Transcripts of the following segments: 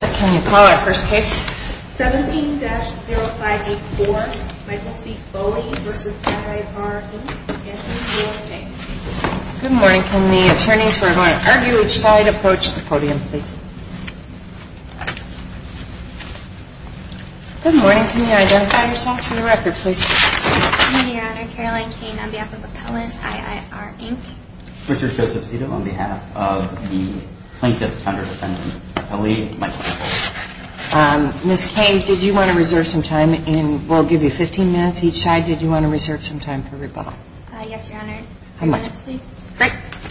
Can you call our first case? 17-0584, Michael C. Foley v. IIR, Inc., Anthony, U.S.A. Good morning. Can the attorneys who are going to argue each side approach the podium, please? Good morning. Can you identify yourselves for the record, please? Good morning, Your Honor. Caroline Kane on behalf of Appellant IIR, Inc. Richard Joseph Cito on behalf of the plaintiff's counter-defendant, Appellee Michael C. Foley. Ms. Kane, did you want to reserve some time? We'll give you 15 minutes each side. Did you want to reserve some time for rebuttal? Yes, Your Honor. Five minutes, please. You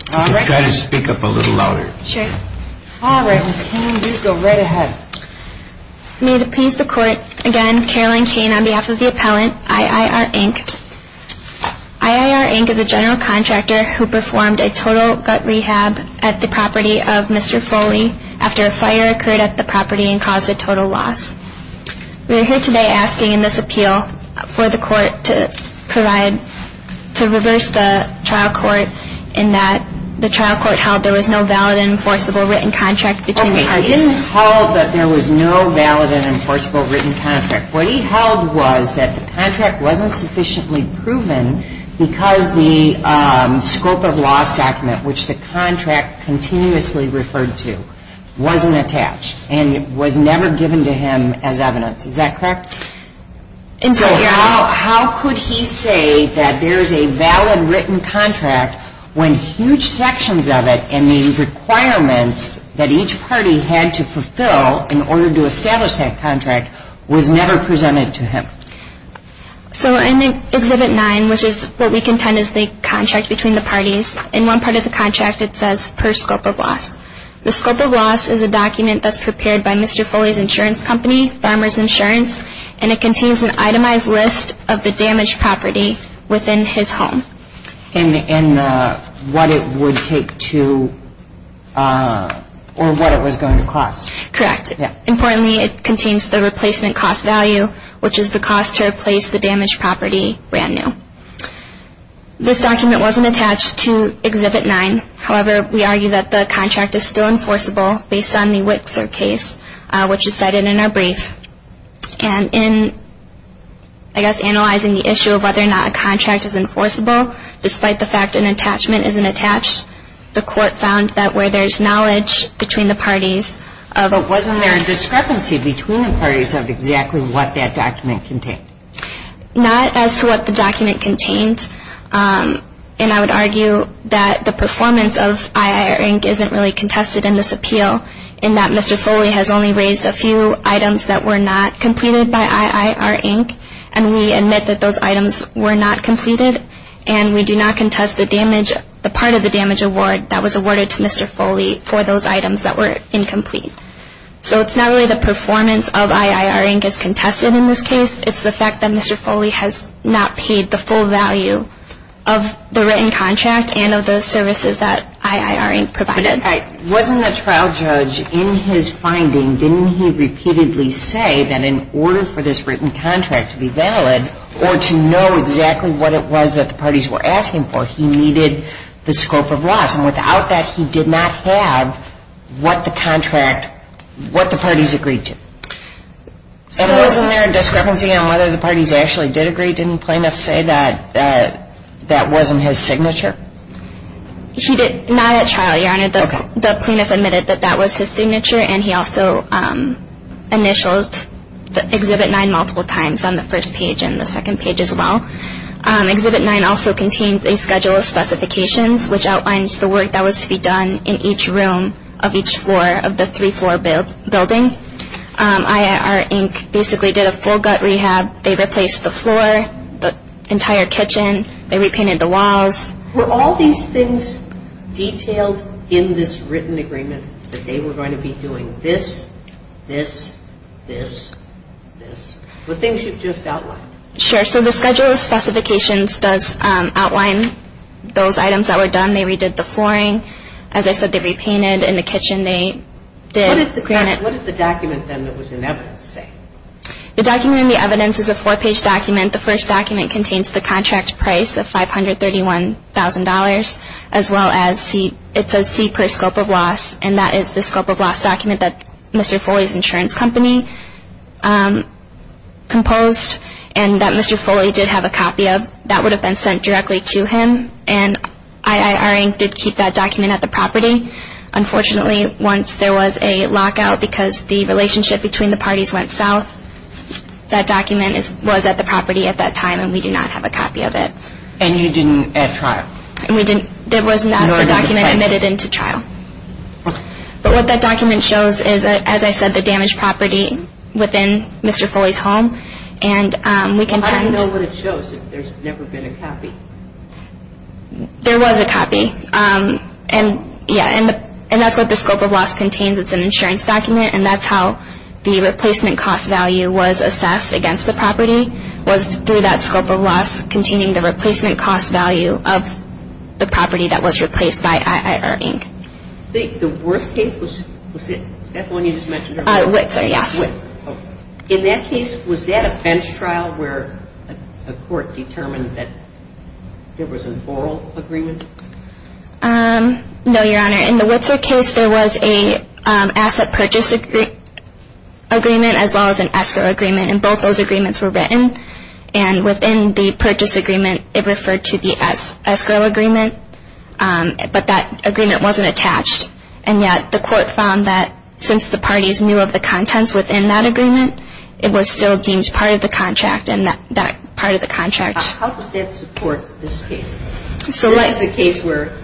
can try to speak up a little louder. Sure. All right, Ms. Kane, you go right ahead. May it appease the Court, again, Caroline Kane on behalf of the Appellant IIR, Inc. IIR, Inc. is a general contractor who performed a total gut rehab at the property of Mr. Foley after a fire occurred at the property and caused a total loss. We are here today asking in this appeal for the Court to provide, to reverse the trial court in that the trial court held there was no valid and enforceable written contract between the case. Okay, I didn't hold that there was no valid and enforceable written contract. What he held was that the contract wasn't sufficiently proven because the scope of loss document, which the contract continuously referred to, wasn't attached, and it was never given to him as evidence. Is that correct? And so how could he say that there's a valid written contract when huge sections of it and the requirements that each party had to fulfill in order to establish that contract was never presented to him? So in Exhibit 9, which is what we contend is the contract between the parties, in one part of the contract it says per scope of loss. The scope of loss is a document that's prepared by Mr. Foley's insurance company, Farmer's Insurance, and it contains an itemized list of the damaged property within his home. And what it would take to, or what it was going to cost. Correct. Importantly, it contains the replacement cost value, which is the cost to replace the damaged property brand new. This document wasn't attached to Exhibit 9. However, we argue that the contract is still enforceable based on the Witzer case, which is cited in our brief. And in, I guess, analyzing the issue of whether or not a contract is enforceable, despite the fact an attachment isn't attached, the court found that where there's knowledge between the parties. But wasn't there a discrepancy between the parties of exactly what that document contained? Not as to what the document contained. And I would argue that the performance of IIR Inc. isn't really contested in this appeal, in that Mr. Foley has only raised a few items that were not completed by IIR Inc., and we admit that those items were not completed, and we do not contest the part of the damage award that was awarded to Mr. Foley for those items that were incomplete. So it's not really the performance of IIR Inc. that's contested in this case. It's the fact that Mr. Foley has not paid the full value of the written contract and of the services that IIR Inc. provided. Wasn't the trial judge, in his finding, didn't he repeatedly say that in order for this written contract to be valid or to know exactly what it was that the parties were asking for, he needed the scope of laws? And without that, he did not have what the contract, what the parties agreed to. And wasn't there a discrepancy on whether the parties actually did agree? Didn't the plaintiff say that that wasn't his signature? He did not at trial, Your Honor. The plaintiff admitted that that was his signature, and he also initialed Exhibit 9 multiple times on the first page and the second page as well. Exhibit 9 also contains a schedule of specifications, which outlines the work that was to be done in each room of each floor of the three-floor building. IIR Inc. basically did a full gut rehab. They replaced the floor, the entire kitchen. They repainted the walls. Were all these things detailed in this written agreement, that they were going to be doing this, this, this, this? The things you've just outlined. Sure. So the schedule of specifications does outline those items that were done. They redid the flooring. As I said, they repainted. In the kitchen, they did granite. What did the document then that was in evidence say? The document in the evidence is a four-page document. The first document contains the contract price of $531,000, as well as it says C per scope of loss, and that is the scope of loss document that Mr. Foley's insurance company composed and that Mr. Foley did have a copy of. That would have been sent directly to him, and IIR Inc. did keep that document at the property. Unfortunately, once there was a lockout because the relationship between the parties went south, that document was at the property at that time, and we do not have a copy of it. And you didn't add trial? There was not a document admitted into trial. But what that document shows is, as I said, the damaged property within Mr. Foley's home. How do you know what it shows if there's never been a copy? There was a copy, and that's what the scope of loss contains. It's an insurance document, and that's how the replacement cost value was assessed against the property, was through that scope of loss containing the replacement cost value of the property that was replaced by IIR Inc. The worst case, was that the one you just mentioned? Witzer, yes. In that case, was that a bench trial where a court determined that there was an oral agreement? No, Your Honor. In the Witzer case, there was an asset purchase agreement as well as an escrow agreement, and both those agreements were written. And within the purchase agreement, it referred to the escrow agreement, but that agreement wasn't attached. And yet, the court found that since the parties knew of the contents within that agreement, it was still deemed part of the contract and that part of the contract. How does that support this case? This is a case where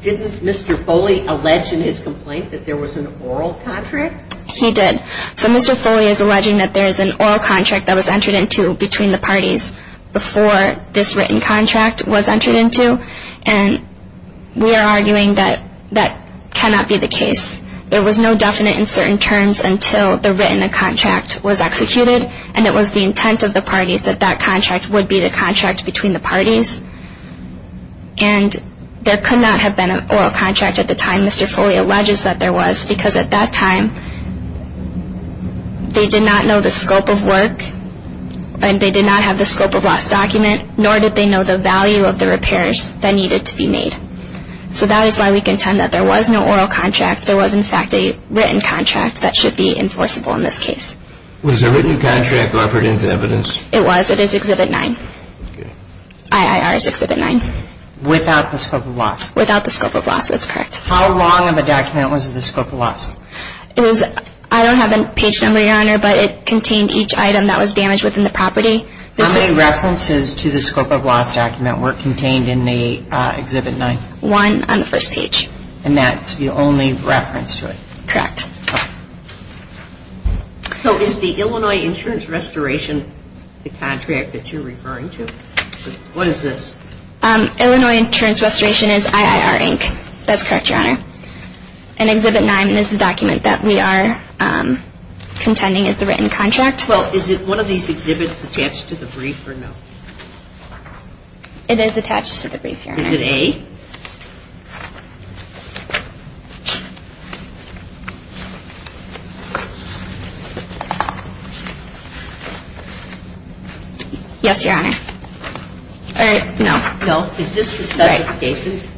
didn't Mr. Foley allege in his complaint that there was an oral contract? He did. So Mr. Foley is alleging that there is an oral contract that was entered into between the parties before this written contract was entered into, and we are arguing that that cannot be the case. There was no definite in certain terms until the written contract was executed, and it was the intent of the parties that that contract would be the contract between the parties. And there could not have been an oral contract at the time Mr. Foley alleges that there was because at that time, they did not know the scope of work and they did not have the scope of last document, nor did they know the value of the repairs that needed to be made. So that is why we contend that there was no oral contract. There was, in fact, a written contract that should be enforceable in this case. Was the written contract offered into evidence? It was. It is Exhibit 9. Okay. IIR is Exhibit 9. Without the scope of loss? Without the scope of loss. That's correct. How long of a document was the scope of loss? I don't have a page number, Your Honor, but it contained each item that was damaged within the property. How many references to the scope of loss document were contained in the Exhibit 9? One on the first page. And that's the only reference to it? Correct. Okay. So is the Illinois Insurance Restoration the contract that you're referring to? What is this? Illinois Insurance Restoration is IIR, Inc. That's correct, Your Honor. And Exhibit 9 is the document that we are contending is the written contract. Well, is it one of these exhibits attached to the brief or no? It is attached to the brief, Your Honor. Is it A? Yes, Your Honor. All right. No. No. Is this the specific basis?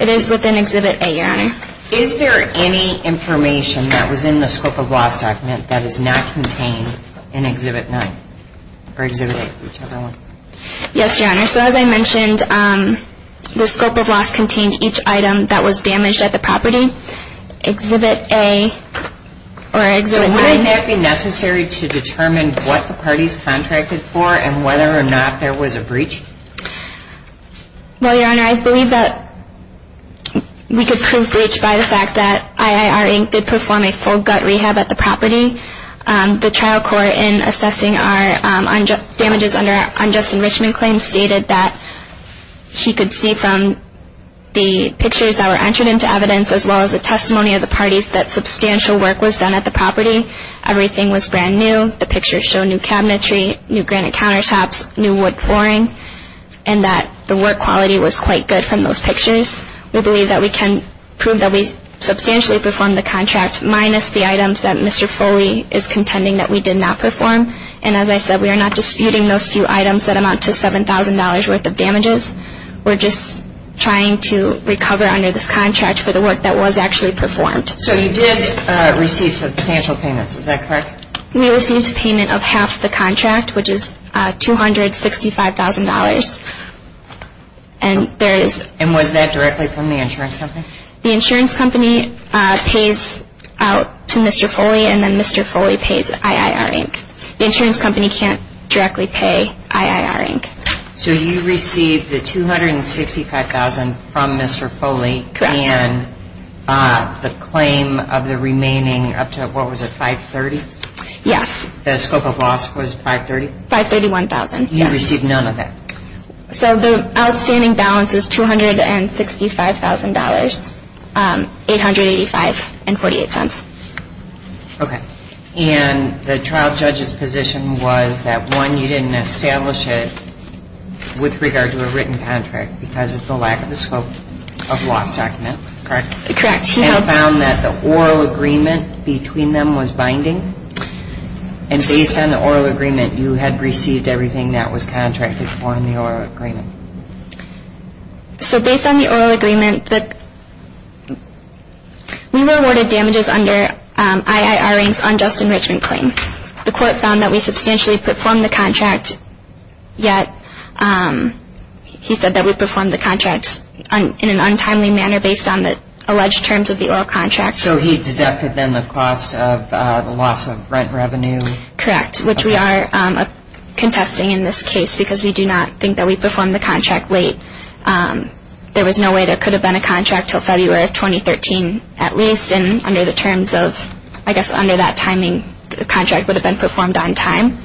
It is within Exhibit A, Your Honor. Is there any information that was in the scope of loss document that is not contained in Exhibit 9 or Exhibit A? Yes, Your Honor. So as I mentioned, the scope of loss contained each item that was damaged at the property. Exhibit A or Exhibit 9. So wouldn't that be necessary to determine what the parties contracted for and whether or not there was a breach? Well, Your Honor, I believe that we could prove breach by the fact that IIR, Inc. did perform a full gut rehab at the property. The trial court in assessing our damages under unjust enrichment claims stated that he could see from the pictures that were entered into evidence as well as the testimony of the parties that substantial work was done at the property. Everything was brand new. The pictures show new cabinetry, new granite countertops, new wood flooring, and that the work quality was quite good from those pictures. We believe that we can prove that we substantially performed the contract minus the items that Mr. Foley is contending that we did not perform. And as I said, we are not disputing those few items that amount to $7,000 worth of damages. We're just trying to recover under this contract for the work that was actually performed. So you did receive substantial payments. Is that correct? We received a payment of half the contract, which is $265,000. And was that directly from the insurance company? The insurance company pays out to Mr. Foley, and then Mr. Foley pays IIR, Inc. The insurance company can't directly pay IIR, Inc. So you received the $265,000 from Mr. Foley and the claim of the remaining up to, what was it, $530,000? The scope of loss was $530,000? $531,000, yes. And you received none of that? So the outstanding balance is $265,000, $885.48. Okay. And the trial judge's position was that, one, you didn't establish it with regard to a written contract because of the lack of the scope of loss document, correct? Correct. And found that the oral agreement between them was binding? And based on the oral agreement, you had received everything that was contracted for in the oral agreement? So based on the oral agreement, we were awarded damages under IIR, Inc.'s unjust enrichment claim. The court found that we substantially performed the contract, yet he said that we performed the contract in an untimely manner based on the alleged terms of the oral contract. So he deducted, then, the cost of the loss of rent revenue? Correct, which we are contesting in this case because we do not think that we performed the contract late. There was no way there could have been a contract until February of 2013, at least, and under the terms of, I guess, under that timing, the contract would have been performed on time.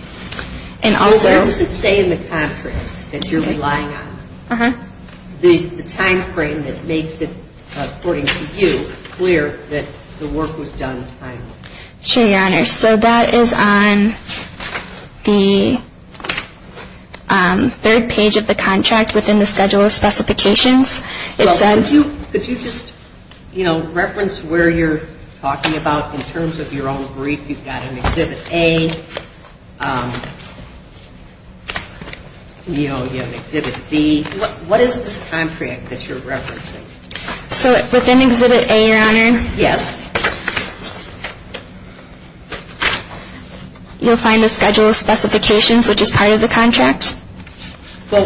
And also What does it say in the contract that you're relying on? The timeframe that makes it, according to you, clear that the work was done timely? Sure, Your Honor. So that is on the third page of the contract within the schedule of specifications. It said Well, could you just, you know, reference where you're talking about in terms of your own brief? You've got an Exhibit A. You know, you have Exhibit B. What is this contract that you're referencing? So within Exhibit A, Your Honor, Yes. You'll find the schedule of specifications, which is part of the contract. Well,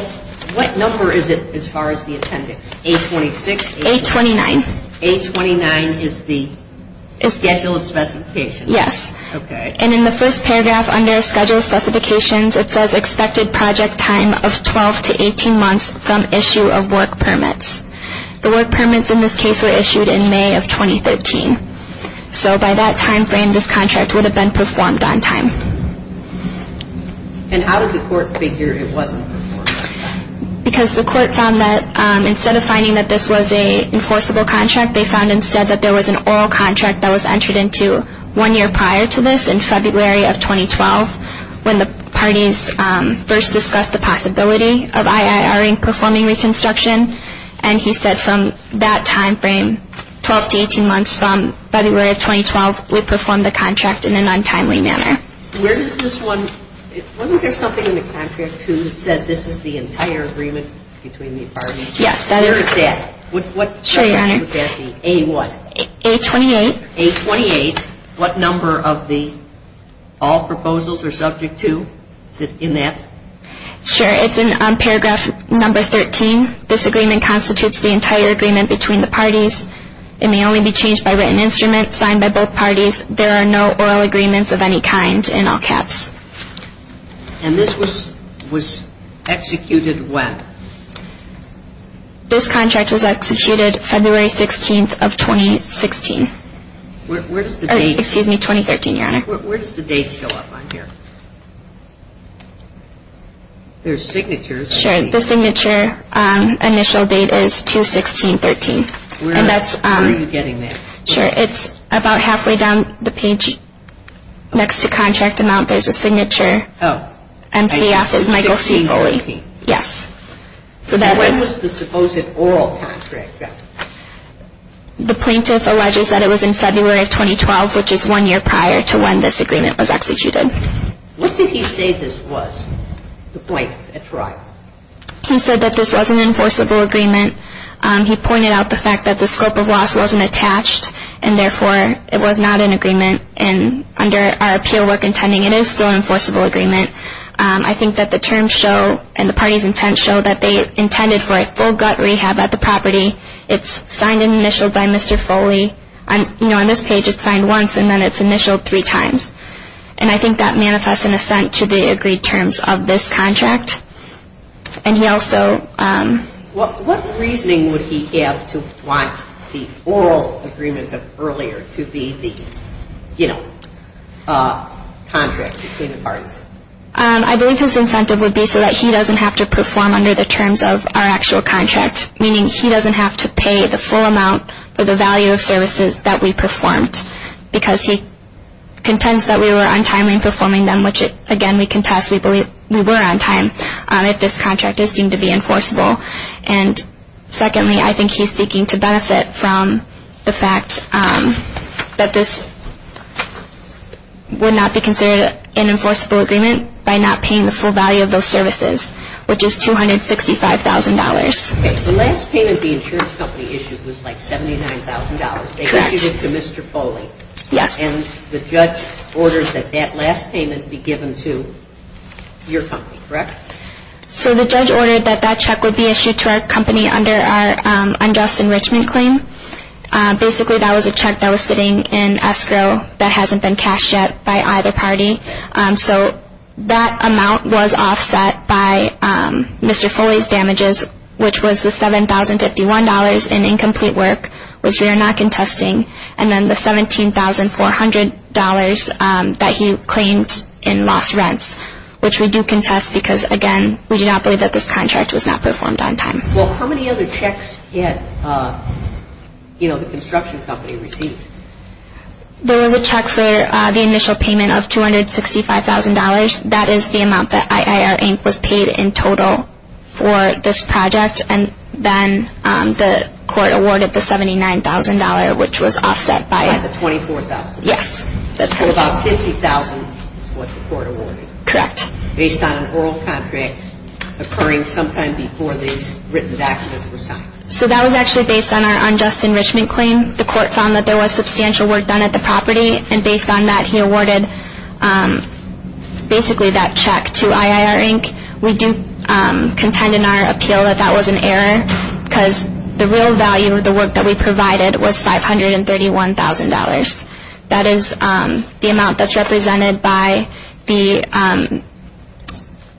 what number is it as far as the appendix? A-26? A-29. A-29 is the schedule of specifications? Yes. Okay. And in the first paragraph under schedule of specifications, it says expected project time of 12 to 18 months from issue of work permits. The work permits in this case were issued in May of 2013. So by that timeframe, this contract would have been performed on time. And how did the court figure it wasn't? Because the court found that instead of finding that this was an enforceable contract, they found instead that there was an oral contract that was entered into one year prior to this in February of 2012 when the parties first discussed the possibility of IIRE performing reconstruction. And he said from that timeframe, 12 to 18 months from February of 2012, we performed the contract in an untimely manner. Wasn't there something in the contract too that said this is the entire agreement between the parties? Yes. Where is that? Sure, Your Honor. A what? A-28. A-28. What number of the all proposals are subject to in that? Sure. It's in paragraph number 13. This agreement constitutes the entire agreement between the parties. It may only be changed by written instrument signed by both parties. There are no oral agreements of any kind in all caps. And this was executed when? This contract was executed February 16th of 2016. Where does the date? Excuse me, 2013, Your Honor. Where does the date show up on here? There's signatures. Sure. The signature initial date is 2-16-13. Where are you getting that? Sure. It's about halfway down the page next to contract amount. There's a signature. Oh. MCF is Michael C. Foley. 2-16-13. Yes. When was the supposed oral contract? The plaintiff alleges that it was in February of 2012, which is one year prior to when this agreement was executed. What did he say this was, the plaintiff, at trial? He said that this was an enforceable agreement. He pointed out the fact that the scope of loss wasn't attached, and, therefore, it was not an agreement. And under our appeal work intending, it is still an enforceable agreement. I think that the terms show and the party's intent show that they intended for a full gut rehab at the property. It's signed and initialed by Mr. Foley. You know, on this page, it's signed once, and then it's initialed three times. And I think that manifests in assent to the agreed terms of this contract. And he also. What reasoning would he have to want the oral agreement of earlier to be the, you know, contract between the parties? I believe his incentive would be so that he doesn't have to perform under the terms of our actual contract, meaning he doesn't have to pay the full amount for the value of services that we performed, because he contends that we were untimely in performing them, which, again, we contest. We believe we were on time if this contract is deemed to be enforceable. And, secondly, I think he's seeking to benefit from the fact that this would not be considered an enforceable agreement by not paying the full value of those services, which is $265,000. The last payment the insurance company issued was like $79,000. Correct. Issued to Mr. Foley. Yes. And the judge orders that that last payment be given to your company, correct? So the judge ordered that that check would be issued to our company under our unjust enrichment claim. Basically, that was a check that was sitting in escrow that hasn't been cashed yet by either party. So that amount was offset by Mr. Foley's damages, which was the $7,051 in incomplete work, which we are not contesting, and then the $17,400 that he claimed in lost rents, which we do contest because, again, we do not believe that this contract was not performed on time. Well, how many other checks had, you know, the construction company received? There was a check for the initial payment of $265,000. That is the amount that IIR Inc. was paid in total for this project, and then the court awarded the $79,000, which was offset by the $24,000. Yes. So about $50,000 is what the court awarded. Correct. Based on an oral contract occurring sometime before these written documents were signed. So that was actually based on our unjust enrichment claim. The court found that there was substantial work done at the property, and based on that, he awarded basically that check to IIR Inc. We do contend in our appeal that that was an error because the real value of the work that we provided was $531,000. That is the amount that's represented by the replacement cost.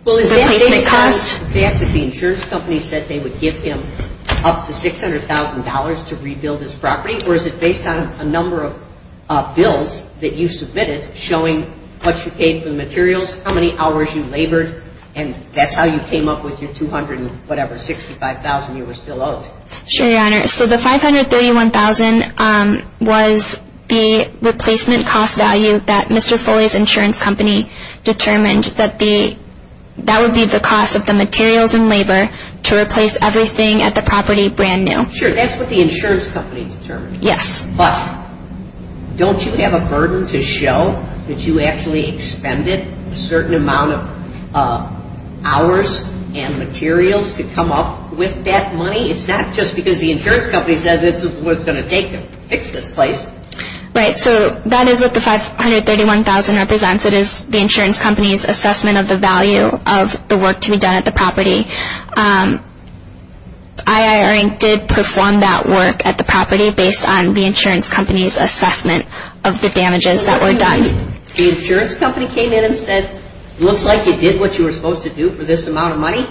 Well, is that based on the fact that the insurance company said they would give him up to $600,000 to rebuild his property, or is it based on a number of bills that you submitted showing what you paid for the materials, how many hours you labored, and that's how you came up with your $265,000 you were still owed? Sure, Your Honor. So the $531,000 was the replacement cost value that Mr. Foley's insurance company determined that would be the cost of the materials and labor to replace everything at the property brand new. Sure, that's what the insurance company determined. Yes. But don't you have a burden to show that you actually expended a certain amount of hours and materials to come up with that money? It's not just because the insurance company says it's what's going to take to fix this place. Right. So that is what the $531,000 represents. It is the insurance company's assessment of the value of the work to be done at the property. IIR Inc. did perform that work at the property based on the insurance company's assessment of the damages that were done. The insurance company came in and said, looks like you did what you were supposed to do for this amount of money?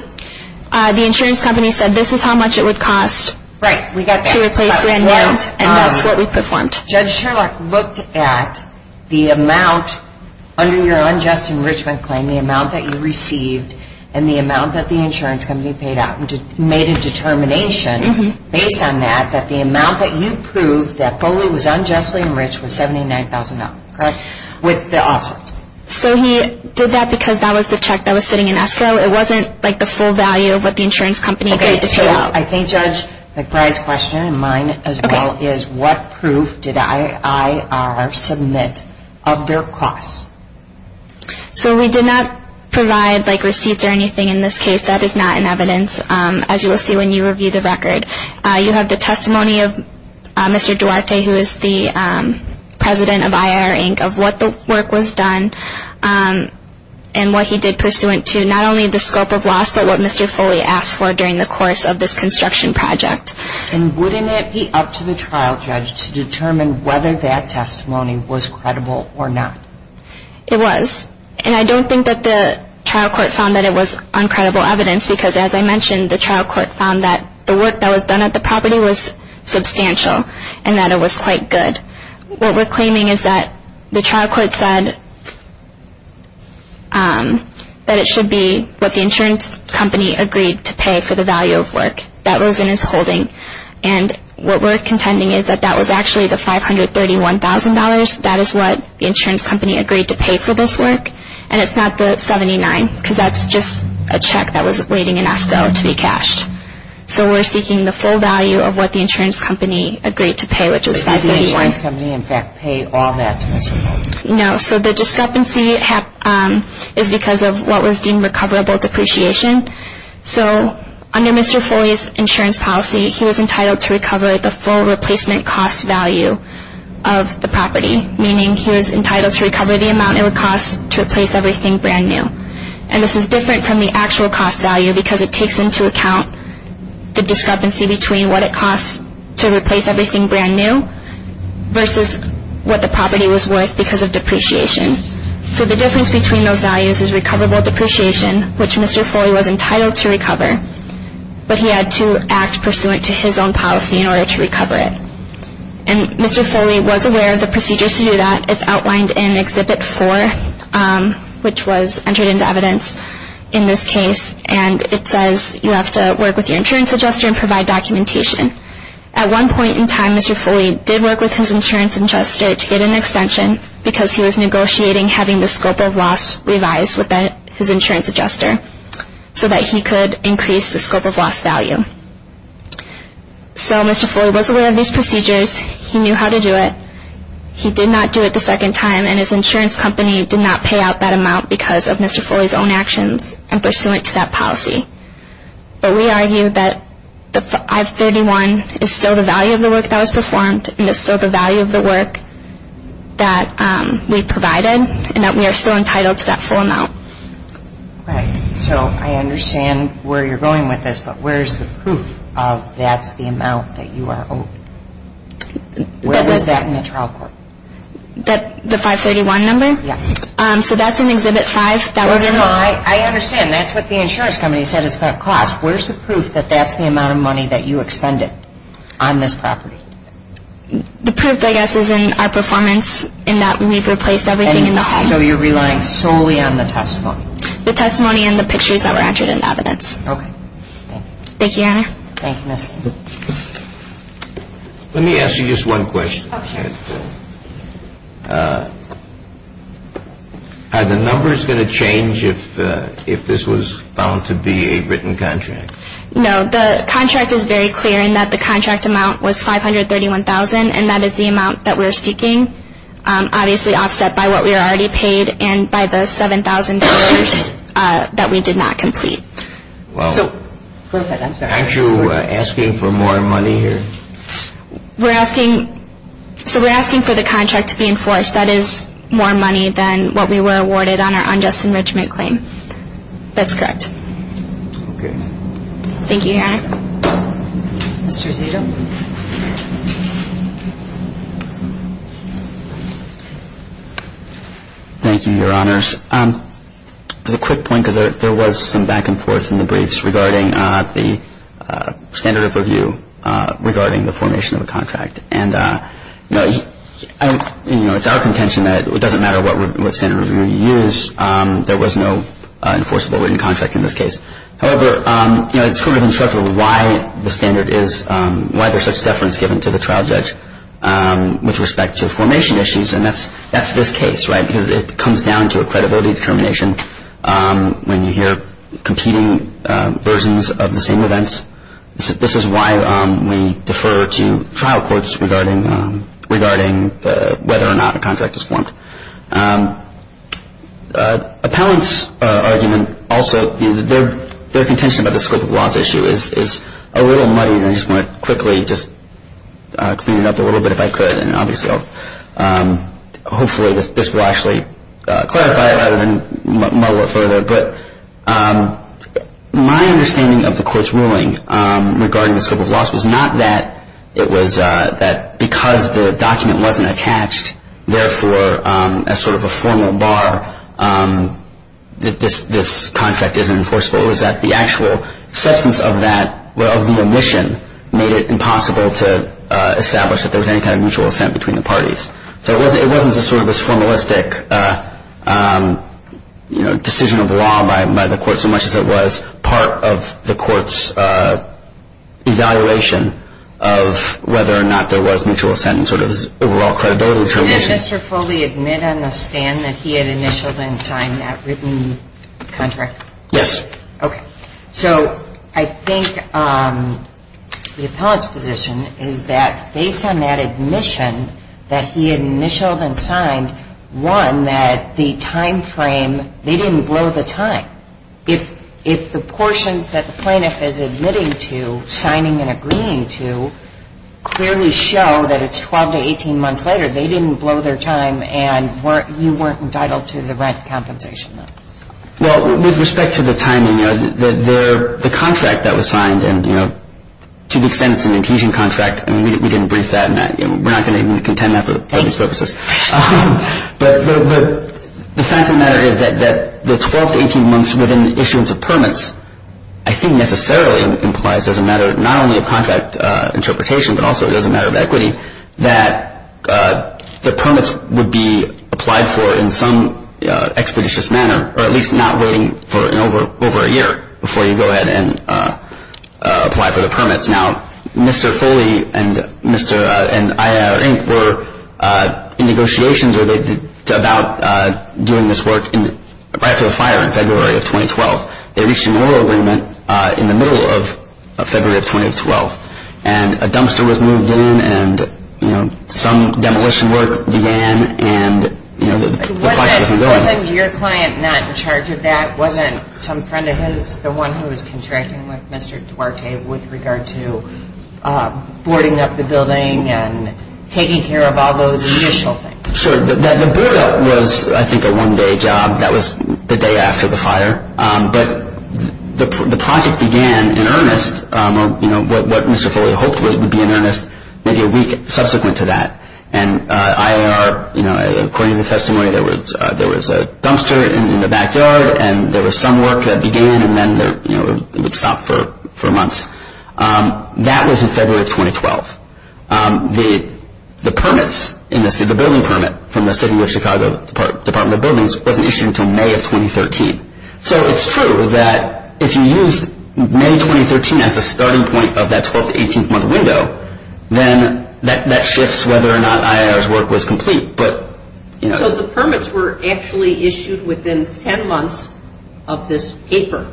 The insurance company said this is how much it would cost to replace brand new, and that's what we performed. Judge Sherlock looked at the amount under your unjust enrichment claim, the amount that you received, and the amount that the insurance company paid out, and made a determination based on that that the amount that you proved that fully was unjustly enriched was $79,000. Correct? With the offsets. So he did that because that was the check that was sitting in escrow? It wasn't like the full value of what the insurance company paid to fill out? I think Judge McBride's question, and mine as well, is what proof did IIR submit of their costs? So we did not provide receipts or anything in this case. That is not in evidence, as you will see when you review the record. You have the testimony of Mr. Duarte, who is the president of IIR Inc., of what the work was done and what he did pursuant to not only the scope of loss, but what Mr. Foley asked for during the course of this construction project. And wouldn't it be up to the trial judge to determine whether that testimony was credible or not? It was. And I don't think that the trial court found that it was uncredible evidence because, as I mentioned, the trial court found that the work that was done at the property was substantial and that it was quite good. What we're claiming is that the trial court said that it should be what the insurance company agreed to pay for the value of work. That was in its holding. And what we're contending is that that was actually the $531,000. That is what the insurance company agreed to pay for this work, and it's not the $79,000 because that's just a check that was waiting in escrow to be cashed. So we're seeking the full value of what the insurance company agreed to pay, which was $531,000. Did the insurance company, in fact, pay all that to Mr. Foley? No. So the discrepancy is because of what was deemed recoverable depreciation. So under Mr. Foley's insurance policy, he was entitled to recover the full replacement cost value of the property, meaning he was entitled to recover the amount it would cost to replace everything brand new. And this is different from the actual cost value because it takes into account the discrepancy between what it costs to replace everything brand new versus what the property was worth because of depreciation. So the difference between those values is recoverable depreciation, which Mr. Foley was entitled to recover, but he had to act pursuant to his own policy in order to recover it. And Mr. Foley was aware of the procedures to do that. It's outlined in Exhibit 4, which was entered into evidence in this case, and it says you have to work with your insurance adjuster and provide documentation. At one point in time, Mr. Foley did work with his insurance adjuster to get an extension because he was negotiating having the scope of loss revised with his insurance adjuster so that he could increase the scope of loss value. So Mr. Foley was aware of these procedures. He knew how to do it. He did not do it the second time, and his insurance company did not pay out that amount because of Mr. Foley's own actions and pursuant to that policy. But we argue that I-31 is still the value of the work that was performed and is still the value of the work that we provided and that we are still entitled to that full amount. Right. So I understand where you're going with this, but where is the proof of that's the amount that you are owed? Where was that in the trial court? The 531 number? Yes. So that's in Exhibit 5. I understand. That's what the insurance company said it's going to cost. Where's the proof that that's the amount of money that you expended on this property? The proof, I guess, is in our performance in that we've replaced everything in the home. So you're relying solely on the testimony? The testimony and the pictures that were entered in the evidence. Okay. Thank you. Thank you, Your Honor. Thank you, Ms. Handler. Let me ask you just one question. Are the numbers going to change if this was found to be a written contract? No. The contract is very clear in that the contract amount was 531,000, and that is the amount that we're seeking, obviously offset by what we were already paid and by the $7,000 that we did not complete. Aren't you asking for more money here? We're asking for the contract to be enforced. That is more money than what we were awarded on our unjust enrichment claim. That's correct. Okay. Thank you, Your Honor. Mr. Zito. Thank you, Your Honors. Just a quick point because there was some back and forth in the briefs regarding the standard of review regarding the formation of a contract. And, you know, it's our contention that it doesn't matter what standard of review you use. There was no enforceable written contract in this case. However, you know, it's kind of instructive of why the standard is, why there's such deference given to the trial judge with respect to formation issues, and that's this case, right, because it comes down to a credibility determination when you hear competing versions of the same events. This is why we defer to trial courts regarding whether or not a contract is formed. Appellant's argument also, their contention about the scope of the loss issue is a little muddy, and I just want to quickly just clean it up a little bit if I could. And obviously I'll, hopefully this will actually clarify it rather than muddle it further. But my understanding of the court's ruling regarding the scope of loss was not that it was, that because the document wasn't attached, therefore, as sort of a formal bar, that this contract isn't enforceable. It was that the actual substance of that, of the omission, made it impossible to establish that there was any kind of mutual assent between the parties. So it wasn't just sort of this formalistic, you know, decision of the law by the court, so much as it was part of the court's evaluation of whether or not there was mutual assent in sort of its overall credibility determination. Did Mr. Foley admit on the stand that he had initialed and signed that written contract? Yes. Okay. So I think the appellant's position is that based on that admission that he had initialed and signed, one, that the time frame, they didn't blow the time. If the portions that the plaintiff is admitting to, signing and agreeing to, clearly show that it's 12 to 18 months later, they didn't blow their time and you weren't entitled to the rent compensation. Well, with respect to the timing, the contract that was signed and, you know, to the extent it's an adhesion contract, I mean, we didn't brief that. We're not going to even contend that for these purposes. But the fact of the matter is that the 12 to 18 months within the issuance of permits, I think necessarily implies as a matter not only of contract interpretation, but also as a matter of equity, that the permits would be applied for in some expeditious manner or at least not waiting for over a year before you go ahead and apply for the permits. Now, Mr. Foley and Mr. Inc. were in negotiations about doing this work right after the fire in February of 2012. They reached an oil agreement in the middle of February of 2012. And a dumpster was moved in and, you know, some demolition work began and, you know, the project wasn't going. Wasn't your client not in charge of that? Wasn't some friend of his the one who was contracting with Mr. Duarte with regard to boarding up the building and taking care of all those initial things? Sure. The board up was, I think, a one-day job. That was the day after the fire. But the project began in earnest, you know, what Mr. Foley hoped would be in earnest, maybe a week subsequent to that. And IIR, you know, according to the testimony, there was a dumpster in the backyard and there was some work that began and then, you know, it would stop for months. That was in February of 2012. The permits, the building permit from the City of Chicago Department of Buildings wasn't issued until May of 2013. So it's true that if you use May 2013 as the starting point of that 12- to 18-month window, then that shifts whether or not IIR's work was complete, but, you know. So the permits were actually issued within 10 months of this paper.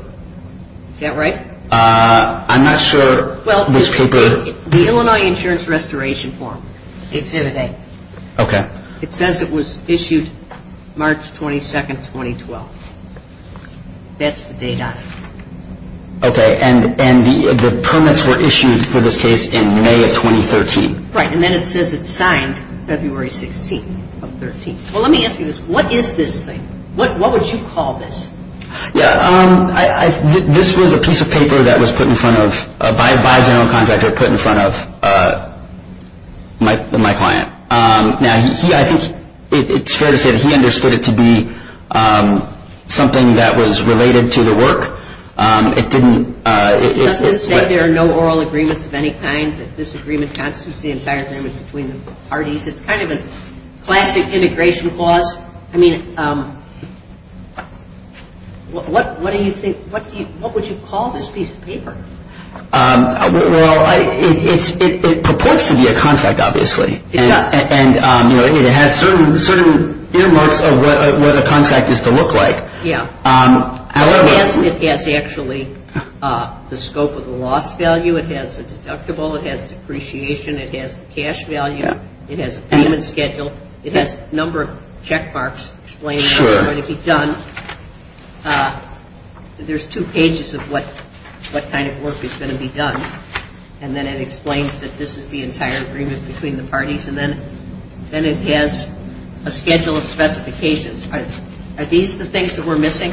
Is that right? I'm not sure which paper. Well, the Illinois Insurance Restoration Form. It's in a day. Okay. It says it was issued March 22, 2012. That's the date on it. Okay, and the permits were issued for this case in May of 2013. Right, and then it says it's signed February 16 of 2013. Well, let me ask you this. What is this thing? What would you call this? Yeah, this was a piece of paper that was put in front of, by a general contractor, put in front of my client. Now, I think it's fair to say that he understood it to be something that was related to the work. It didn't – It doesn't say there are no oral agreements of any kind, that this agreement constitutes the entire damage between the parties. It's kind of a classic integration clause. I mean, what do you think – what would you call this piece of paper? Well, it purports to be a contract, obviously. It does. And, you know, it has certain earmarks of what a contract is to look like. Yeah. However – It has actually the scope of the loss value, it has the deductible, it has depreciation, it has the cash value, it has payment schedule, it has a number of check marks explaining how it's going to be done. Sure. There's two pages of what kind of work is going to be done, and then it explains that this is the entire agreement between the parties, and then it has a schedule of specifications. Are these the things that we're missing?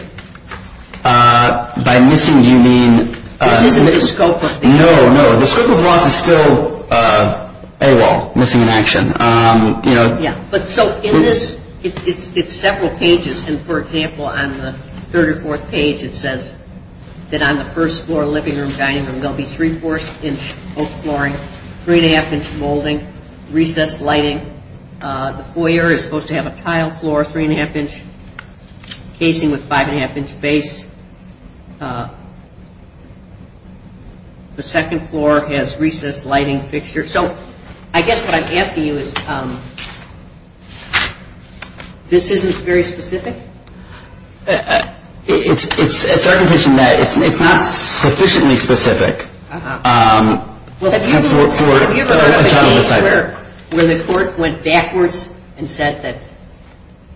By missing, do you mean – This isn't the scope of the – No, no. The scope of loss is still a wall, missing in action. Yeah. But so in this, it's several pages, and, for example, on the third or fourth page, it says that on the first floor living room, dining room, there will be three-fourths-inch oak flooring, three-and-a-half-inch molding, recessed lighting. The foyer is supposed to have a tile floor, three-and-a-half-inch casing with five-and-a-half-inch base. The second floor has recessed lighting fixtures. So I guess what I'm asking you is this isn't very specific? It's our condition that it's not sufficiently specific for a trial of a site. Well, have you ever had a case where the court went backwards and said that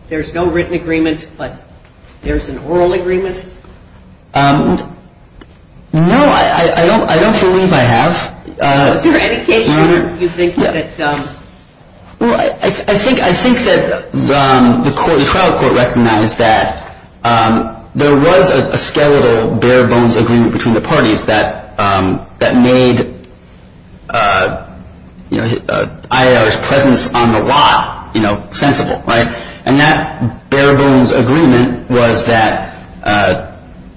there's no written agreement but there's an oral agreement? No, I don't believe I have. Was there any case where you think that – Well, I think that the trial court recognized that there was a skeletal bare-bones agreement between the parties that made IAR's presence on the lot sensible. And that bare-bones agreement was that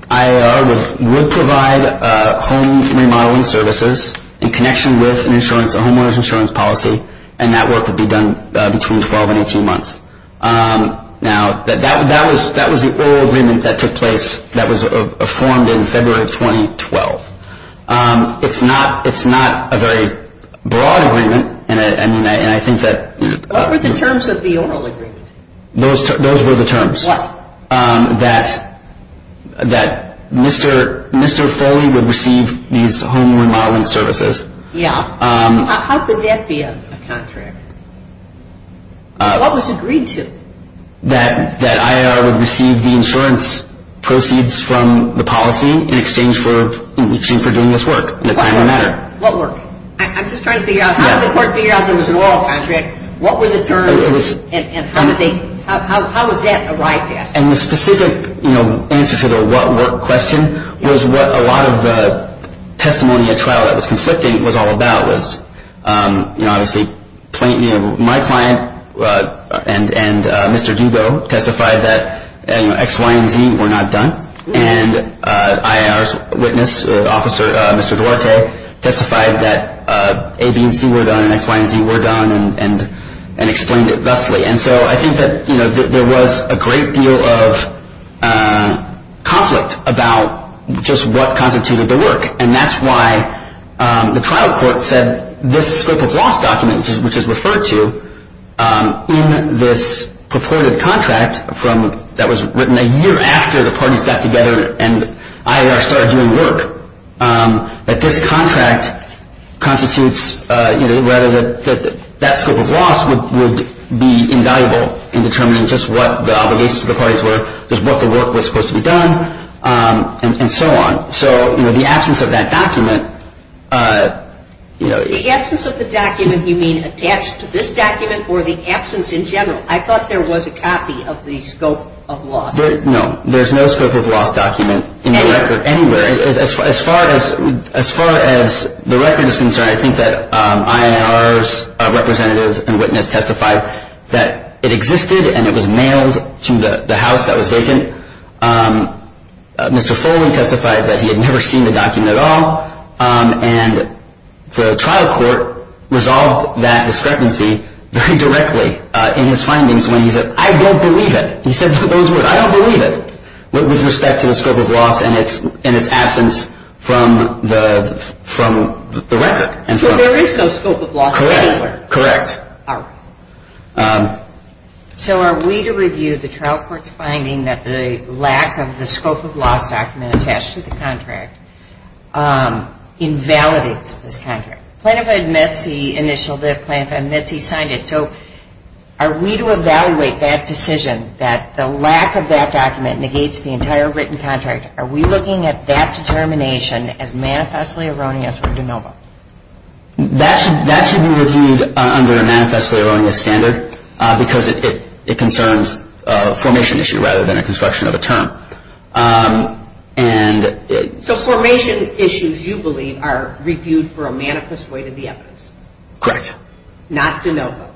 IAR would provide home remodeling services in connection with a homeowner's insurance policy, and that work would be done between 12 and 18 months. Now, that was the oral agreement that took place that was formed in February of 2012. It's not a very broad agreement, and I think that – What were the terms of the oral agreement? Those were the terms. What? That Mr. Foley would receive these home remodeling services. Yeah. How could that be a contract? What was agreed to? That IAR would receive the insurance proceeds from the policy in exchange for doing this work. What work? I'm just trying to figure out how did the court figure out there was an oral contract? What were the terms, and how was that arrived at? And the specific answer to the what work question was what a lot of the testimony at trial that was conflicting was all about was, obviously, my client and Mr. Dugo testified that X, Y, and Z were not done, and IAR's witness, Officer Mr. Duarte, testified that A, B, and C were done, and X, Y, and Z were done, and explained it thusly. And so I think that there was a great deal of conflict about just what constituted the work, and that's why the trial court said this scope of loss document, which is referred to in this purported contract that was written a year after the parties got together and IAR started doing work, that this contract constitutes rather that that scope of loss would be invaluable in determining just what the obligations of the parties were, just what the work was supposed to be done, and so on. So the absence of that document... The absence of the document, you mean attached to this document or the absence in general? I thought there was a copy of the scope of loss. No, there's no scope of loss document in the record anywhere. As far as the record is concerned, I think that IAR's representative and witness testified that it existed and it was mailed to the house that was vacant. Mr. Foley testified that he had never seen the document at all, and the trial court resolved that discrepancy very directly in his findings when he said, I don't believe it. He said those words. I don't believe it with respect to the scope of loss and its absence from the record. So there is no scope of loss anywhere? Correct. All right. So are we to review the trial court's finding that the lack of the scope of loss document attached to the contract invalidates this contract? Plaintiff admits he initialed it. Plaintiff admits he signed it. So are we to evaluate that decision that the lack of that document negates the entire written contract? Are we looking at that determination as manifestly erroneous or de novo? That should be reviewed under a manifestly erroneous standard because it concerns a formation issue rather than a construction of a term. So formation issues, you believe, are reviewed for a manifest weight of the evidence? Correct. Not de novo.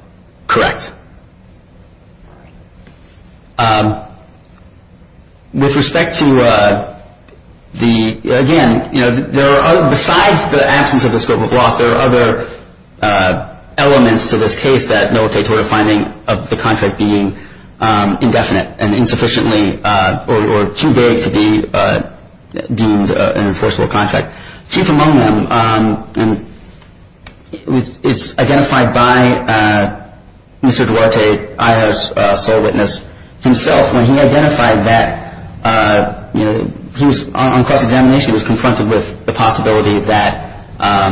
Correct. With respect to the, again, you know, besides the absence of the scope of loss, there are other elements to this case that militate toward a finding of the contract being indefinite and insufficiently or too vague to be deemed an enforceable contract. Chief among them is identified by Mr. Duarte, IHO's sole witness himself, when he identified that he was on cross-examination, was confronted with the possibility that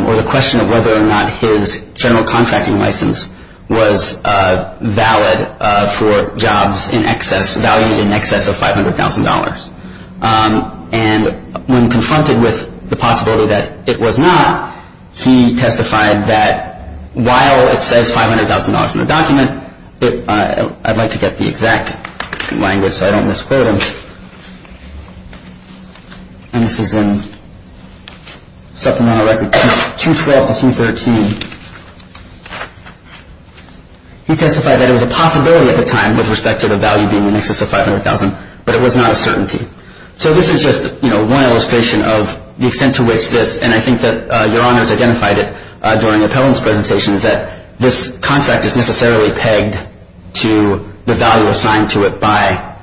or the question of whether or not his general contracting license was valid for jobs in excess, valued in excess of $500,000. And when confronted with the possibility that it was not, he testified that while it says $500,000 in the document, I'd like to get the exact language so I don't misquote him, and this is in supplemental record 212 to 213. He testified that it was a possibility at the time with respect to the value being in excess of $500,000, but it was not a certainty. So this is just, you know, one illustration of the extent to which this, and I think that Your Honors identified it during the appellant's presentation, is that this contract is necessarily pegged to the value assigned to it by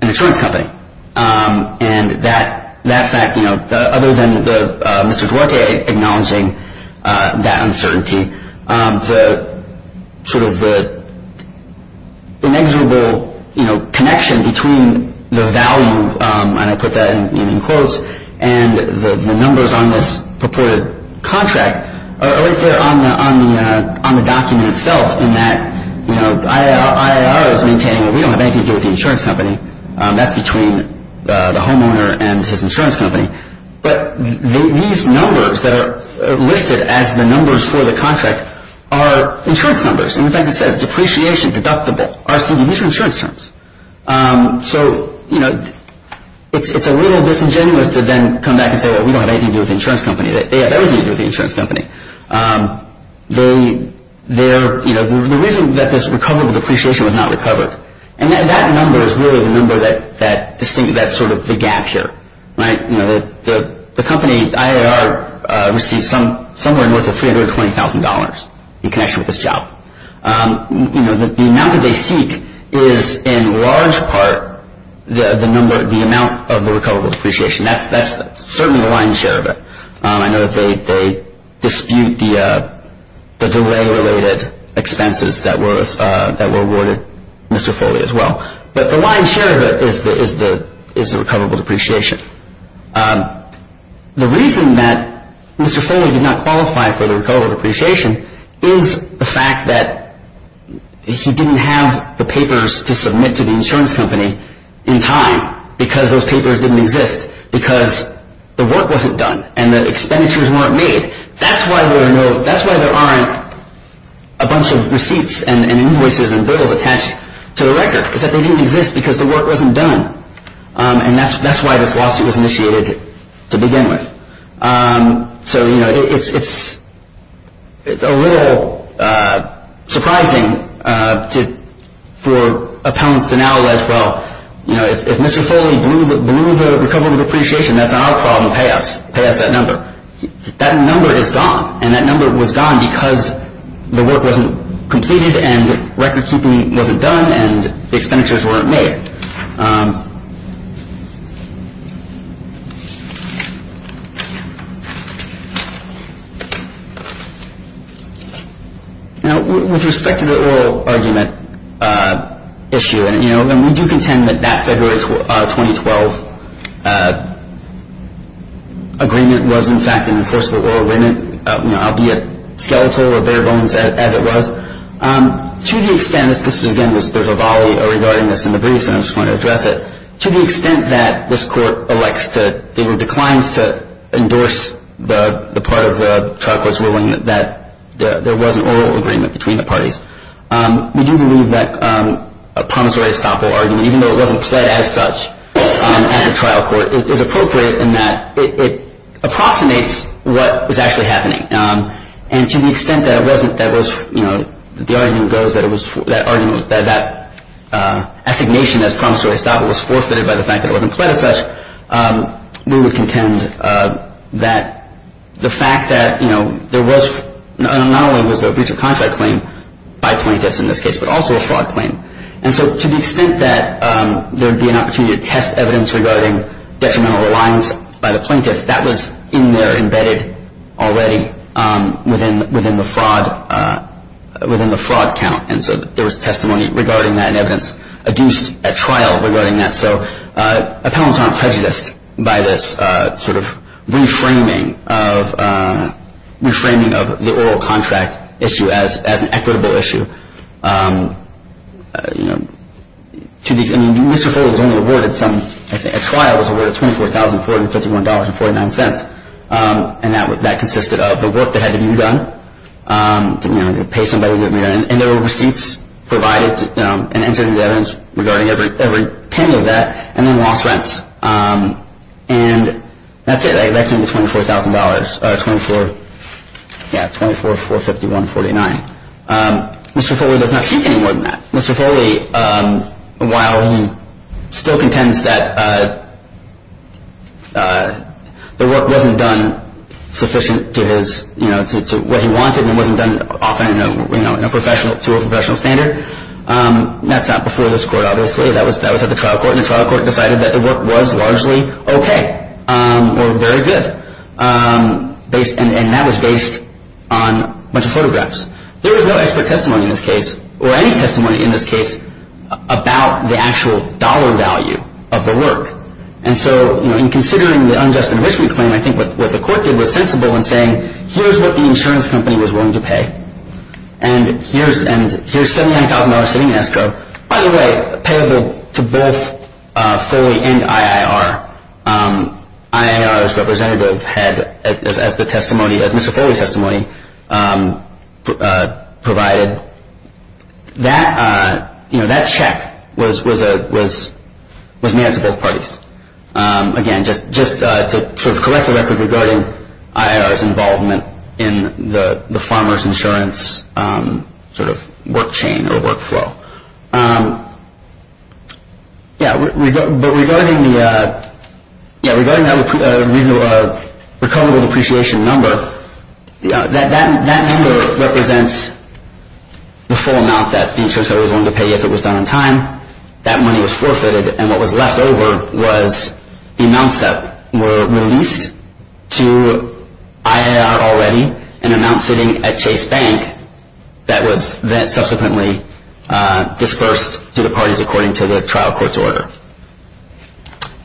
an insurance company. And that fact, you know, other than Mr. Duarte acknowledging that uncertainty, the sort of inexorable, you know, connection between the value, and I put that in quotes, and the numbers on this purported contract are right there on the document itself, in that, you know, IIR is maintaining that we don't have anything to do with the insurance company. That's between the homeowner and his insurance company. But these numbers that are listed as the numbers for the contract are insurance numbers. In fact, it says depreciation, deductible, RCD. These are insurance terms. So, you know, it's a little disingenuous to then come back and say, well, we don't have anything to do with the insurance company. They have everything to do with the insurance company. They're, you know, the reason that this recoverable depreciation was not recovered. And that number is really the number that sort of the gap here, right? You know, the company, IIR, received somewhere north of $320,000 in connection with this job. You know, the amount that they seek is in large part the number, the amount of the recoverable depreciation. That's certainly the lion's share of it. I know that they dispute the delay-related expenses that were awarded Mr. Foley as well. But the lion's share of it is the recoverable depreciation. The reason that Mr. Foley did not qualify for the recoverable depreciation is the fact that he didn't have the papers to submit to the insurance company in time because those papers didn't exist because the work wasn't done and the expenditures weren't made. That's why there aren't a bunch of receipts and invoices and bills attached to the record, is that they didn't exist because the work wasn't done. And that's why this lawsuit was initiated to begin with. So, you know, it's a little surprising for appellants to now allege, well, you know, if Mr. Foley blew the recoverable depreciation, that's not our problem. Pay us. Pay us that number. That number is gone, and that number was gone because the work wasn't completed and recordkeeping wasn't done and expenditures weren't made. Now, with respect to the oral argument issue, and, you know, we do contend that that February 2012 agreement was, in fact, an enforceable oral agreement, albeit skeletal or bare bones as it was. To the extent, this is again, there's a volley regarding this in the briefs, and I just want to address it. To the extent that this court elects to, or declines to, endorse the part of the trial court's ruling that there was an oral agreement between the parties, we do believe that a promissory estoppel argument, even though it wasn't pled as such at the trial court, is appropriate in that it approximates what was actually happening. And to the extent that it wasn't, that was, you know, the argument goes that it was, that argument that that assignation as promissory estoppel was forfeited by the fact that it wasn't pled as such, we would contend that the fact that, you know, there was, not only was there a breach of contract claim by plaintiffs in this case, but also a fraud claim. And so to the extent that there would be an opportunity to test evidence regarding detrimental reliance by the plaintiff, that was in there, embedded already within the fraud count. And so there was testimony regarding that and evidence adduced at trial regarding that. So appellants aren't prejudiced by this sort of reframing of the oral contract issue as an equitable issue. You know, Mr. Foley was only awarded some, I think, a trial was awarded $24,451.49, and that consisted of the work that had to be done, you know, to pay somebody, and there were receipts provided and entering the evidence regarding every penny of that, and then loss rents. And that's it, that came to $24,000, yeah, $24,451.49. Mr. Foley does not seek any more than that. Mr. Foley, while he still contends that the work wasn't done sufficient to his, you know, to what he wanted and it wasn't done often, you know, to a professional standard, that's not before this court, obviously. That was at the trial court, and the trial court decided that the work was largely okay or very good, and that was based on a bunch of photographs. There was no expert testimony in this case, or any testimony in this case, about the actual dollar value of the work. And so, you know, in considering the unjust enrichment claim, I think what the court did was sensible in saying, here's what the insurance company was willing to pay, and here's $79,000 sitting in escrow, by the way, payable to both Foley and IIR. IIR's representative had, as the testimony, as Mr. Foley's testimony provided, that, you know, that check was made to both parties. Again, just to sort of collect the record regarding IIR's involvement in the farmer's insurance sort of work chain or workflow. Yeah, but regarding the, yeah, regarding that recoverable depreciation number, that number represents the full amount that the insurance company was willing to pay if it was done on time. That money was forfeited, and what was left over was amounts that were released to IIR already, and amounts sitting at Chase Bank that was then subsequently disbursed to the parties according to the trial court's order.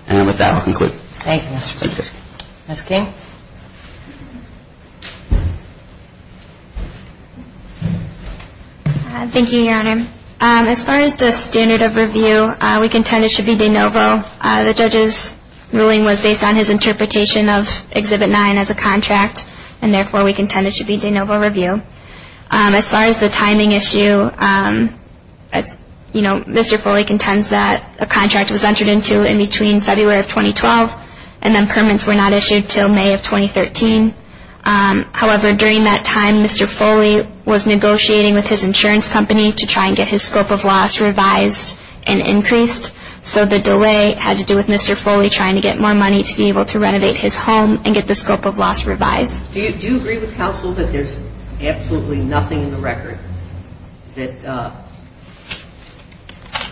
And with that, I'll conclude. Thank you, Mr. Strickland. Ms. King? Thank you, Your Honor. As far as the standard of review, we contend it should be de novo. The judge's ruling was based on his interpretation of Exhibit 9 as a contract, and therefore we contend it should be de novo review. As far as the timing issue, you know, Mr. Foley contends that a contract was entered into in between February of 2012, and then permits were not issued until May of 2013. However, during that time, Mr. Foley was negotiating with his insurance company to try and get his scope of loss revised and increased, so the delay had to do with Mr. Foley trying to get more money to be able to renovate his home and get the scope of loss revised. Do you agree with counsel that there's absolutely nothing in the record that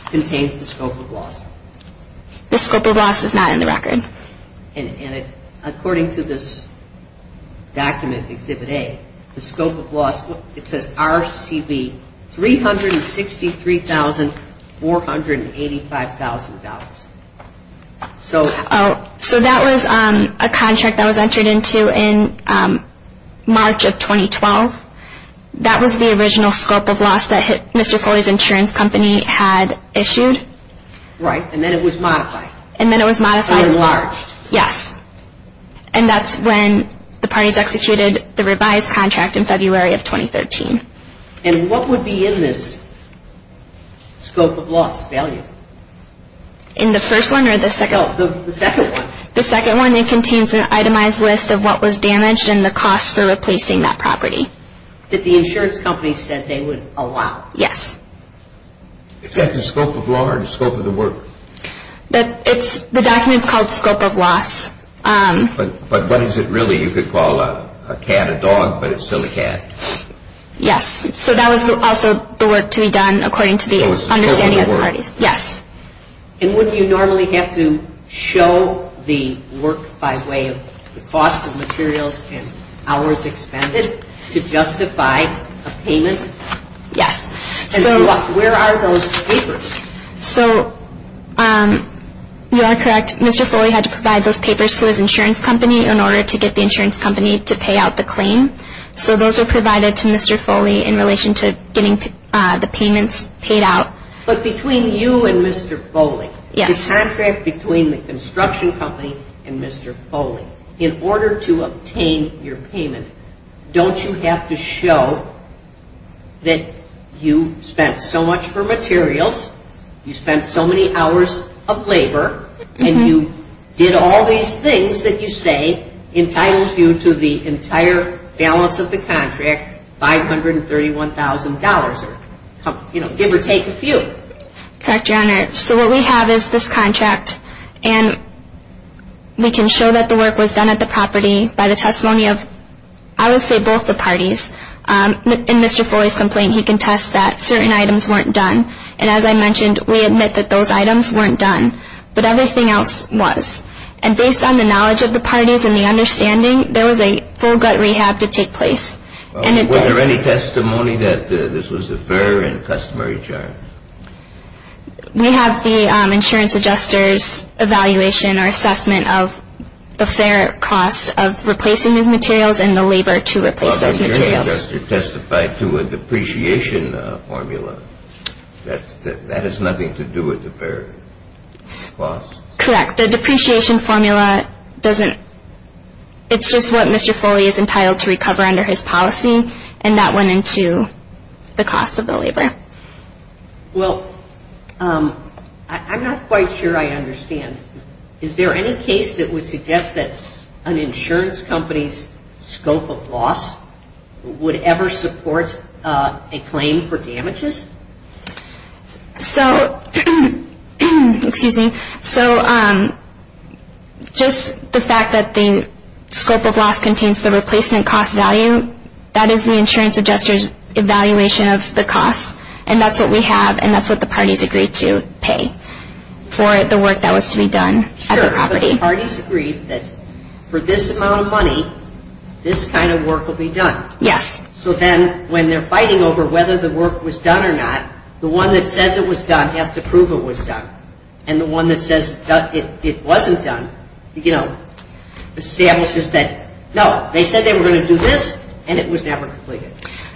contains the scope of loss? The scope of loss is not in the record. According to this document, Exhibit A, the scope of loss, it says RCB $363,485,000. So that was a contract that was entered into in March of 2012? That was the original scope of loss that Mr. Foley's insurance company had issued? Right, and then it was modified. And then it was modified? Or enlarged? Yes, and that's when the parties executed the revised contract in February of 2013. And what would be in this scope of loss value? In the first one or the second? The second one. The second one, it contains an itemized list of what was damaged and the cost for replacing that property. That the insurance company said they would allow? Yes. Is that the scope of loss or the scope of the work? The document's called scope of loss. But what is it really you could call a cat, a dog, but it's still a cat? Yes, so that was also the work to be done according to the understanding of the parties. Yes. And would you normally have to show the work by way of the cost of materials and hours expended to justify a payment? Yes. And where are those papers? So you are correct. Mr. Foley had to provide those papers to his insurance company in order to get the insurance company to pay out the claim. So those were provided to Mr. Foley in relation to getting the payments paid out. But between you and Mr. Foley? Yes. The contract between the construction company and Mr. Foley, in order to obtain your payment, don't you have to show that you spent so much for materials, you spent so many hours of labor, and you did all these things that you say entitles you to the entire balance of the contract, $531,000, give or take a few? Correct, Your Honor. So what we have is this contract, and we can show that the work was done at the property by the testimony of, I would say, both the parties. In Mr. Foley's complaint, he can test that certain items weren't done. And as I mentioned, we admit that those items weren't done, but everything else was. And based on the knowledge of the parties and the understanding, there was a full gut rehab to take place, and it did. Were there any testimony that this was a fair and customary charge? We have the insurance adjuster's evaluation or assessment of the fair cost of replacing these materials and the labor to replace those materials. The insurance adjuster testified to a depreciation formula. That has nothing to do with the fair costs? Correct. The depreciation formula doesn't – it's just what Mr. Foley is entitled to recover under his policy, and that went into the cost of the labor. Well, I'm not quite sure I understand. Is there any case that would suggest that an insurance company's scope of loss would ever support a claim for damages? So – excuse me. So just the fact that the scope of loss contains the replacement cost value, that is the insurance adjuster's evaluation of the cost, and that's what we have, and that's what the parties agreed to pay for the work that was to be done at the property. Sure, but the parties agreed that for this amount of money, this kind of work will be done. Yes. So then when they're fighting over whether the work was done or not, the one that says it was done has to prove it was done. And the one that says it wasn't done, you know, establishes that, no, they said they were going to do this, and it was never completed.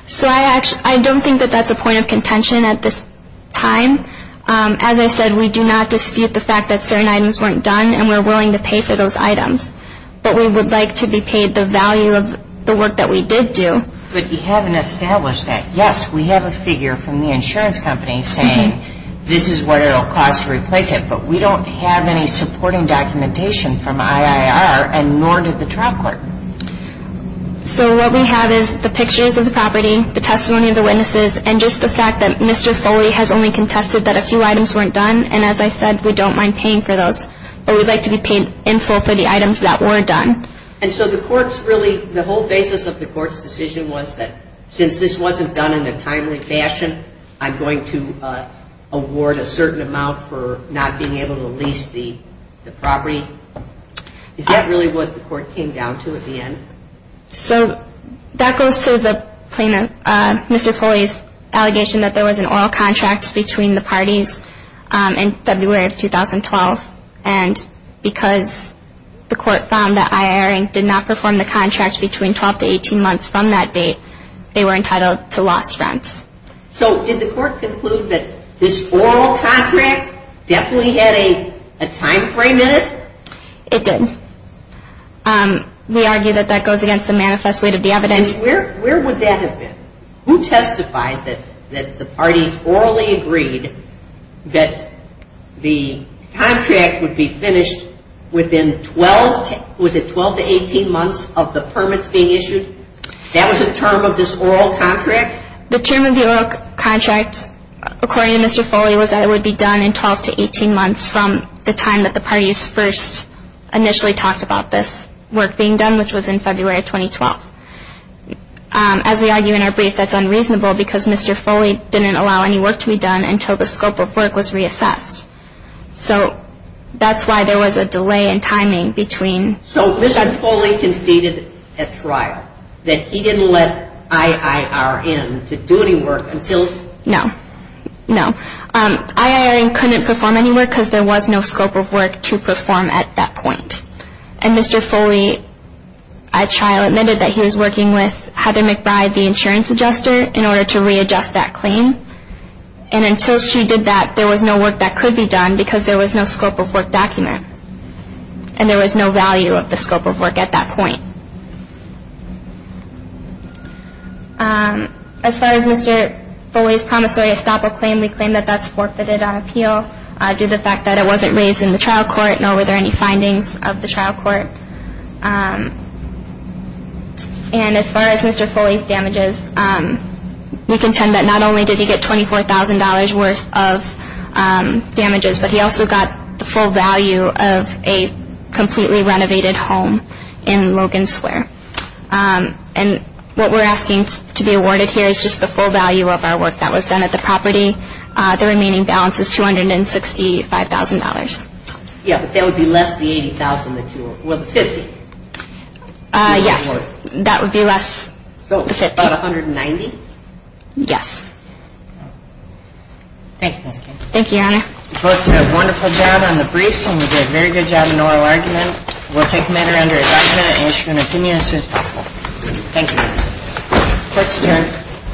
So I don't think that that's a point of contention at this time. As I said, we do not dispute the fact that certain items weren't done, and we're willing to pay for those items. But we would like to be paid the value of the work that we did do. But you haven't established that. Yes, we have a figure from the insurance company saying this is what it will cost to replace it, but we don't have any supporting documentation from IIR, and nor did the trial court. So what we have is the pictures of the property, the testimony of the witnesses, and just the fact that Mr. Foley has only contested that a few items weren't done. And as I said, we don't mind paying for those, but we'd like to be paid in full for the items that weren't done. And so the court's really, the whole basis of the court's decision was that since this wasn't done in a timely fashion, I'm going to award a certain amount for not being able to lease the property. Is that really what the court came down to at the end? So that goes to Mr. Foley's allegation that there was an oral contract between the parties in February of 2012, and because the court found that IIR did not perform the contract between 12 to 18 months from that date, they were entitled to lost rents. So did the court conclude that this oral contract definitely had a timeframe in it? It did. We argue that that goes against the manifest weight of the evidence. Where would that have been? Who testified that the parties orally agreed that the contract would be finished within 12, was it 12 to 18 months of the permits being issued? That was a term of this oral contract? The term of the oral contract, according to Mr. Foley, was that it would be done in 12 to 18 months from the time that the parties first initially talked about this work being done, which was in February of 2012. As we argue in our brief, that's unreasonable, because Mr. Foley didn't allow any work to be done until the scope of work was reassessed. So that's why there was a delay in timing between... So Mr. Foley conceded at trial that he didn't let IIR in to do any work until... No. No. IIR in couldn't perform any work because there was no scope of work to perform at that point. And Mr. Foley at trial admitted that he was working with Heather McBride, the insurance adjuster, in order to readjust that claim. And until she did that, there was no work that could be done because there was no scope of work document. And there was no value of the scope of work at that point. As far as Mr. Foley's promissory estoppel claim, we claim that that's forfeited on appeal due to the fact that it wasn't raised in the trial court, nor were there any findings of the trial court. And as far as Mr. Foley's damages, we contend that not only did he get $24,000 worth of damages, but he also got the full value of a completely renovated home in Logan Square. And what we're asking to be awarded here is just the full value of our work that was done at the property. The remaining balance is $265,000. Yeah, but that would be less the $80,000 that you were... well, the $50,000. Yes, that would be less the $50,000. So about $190,000? Yes. Thank you, Ms. King. Thank you, Your Honor. You both did a wonderful job on the briefs, and you did a very good job in the oral argument. We'll take the matter under a five-minute instrument. Give me an answer as soon as possible. Thank you. Court's adjourned.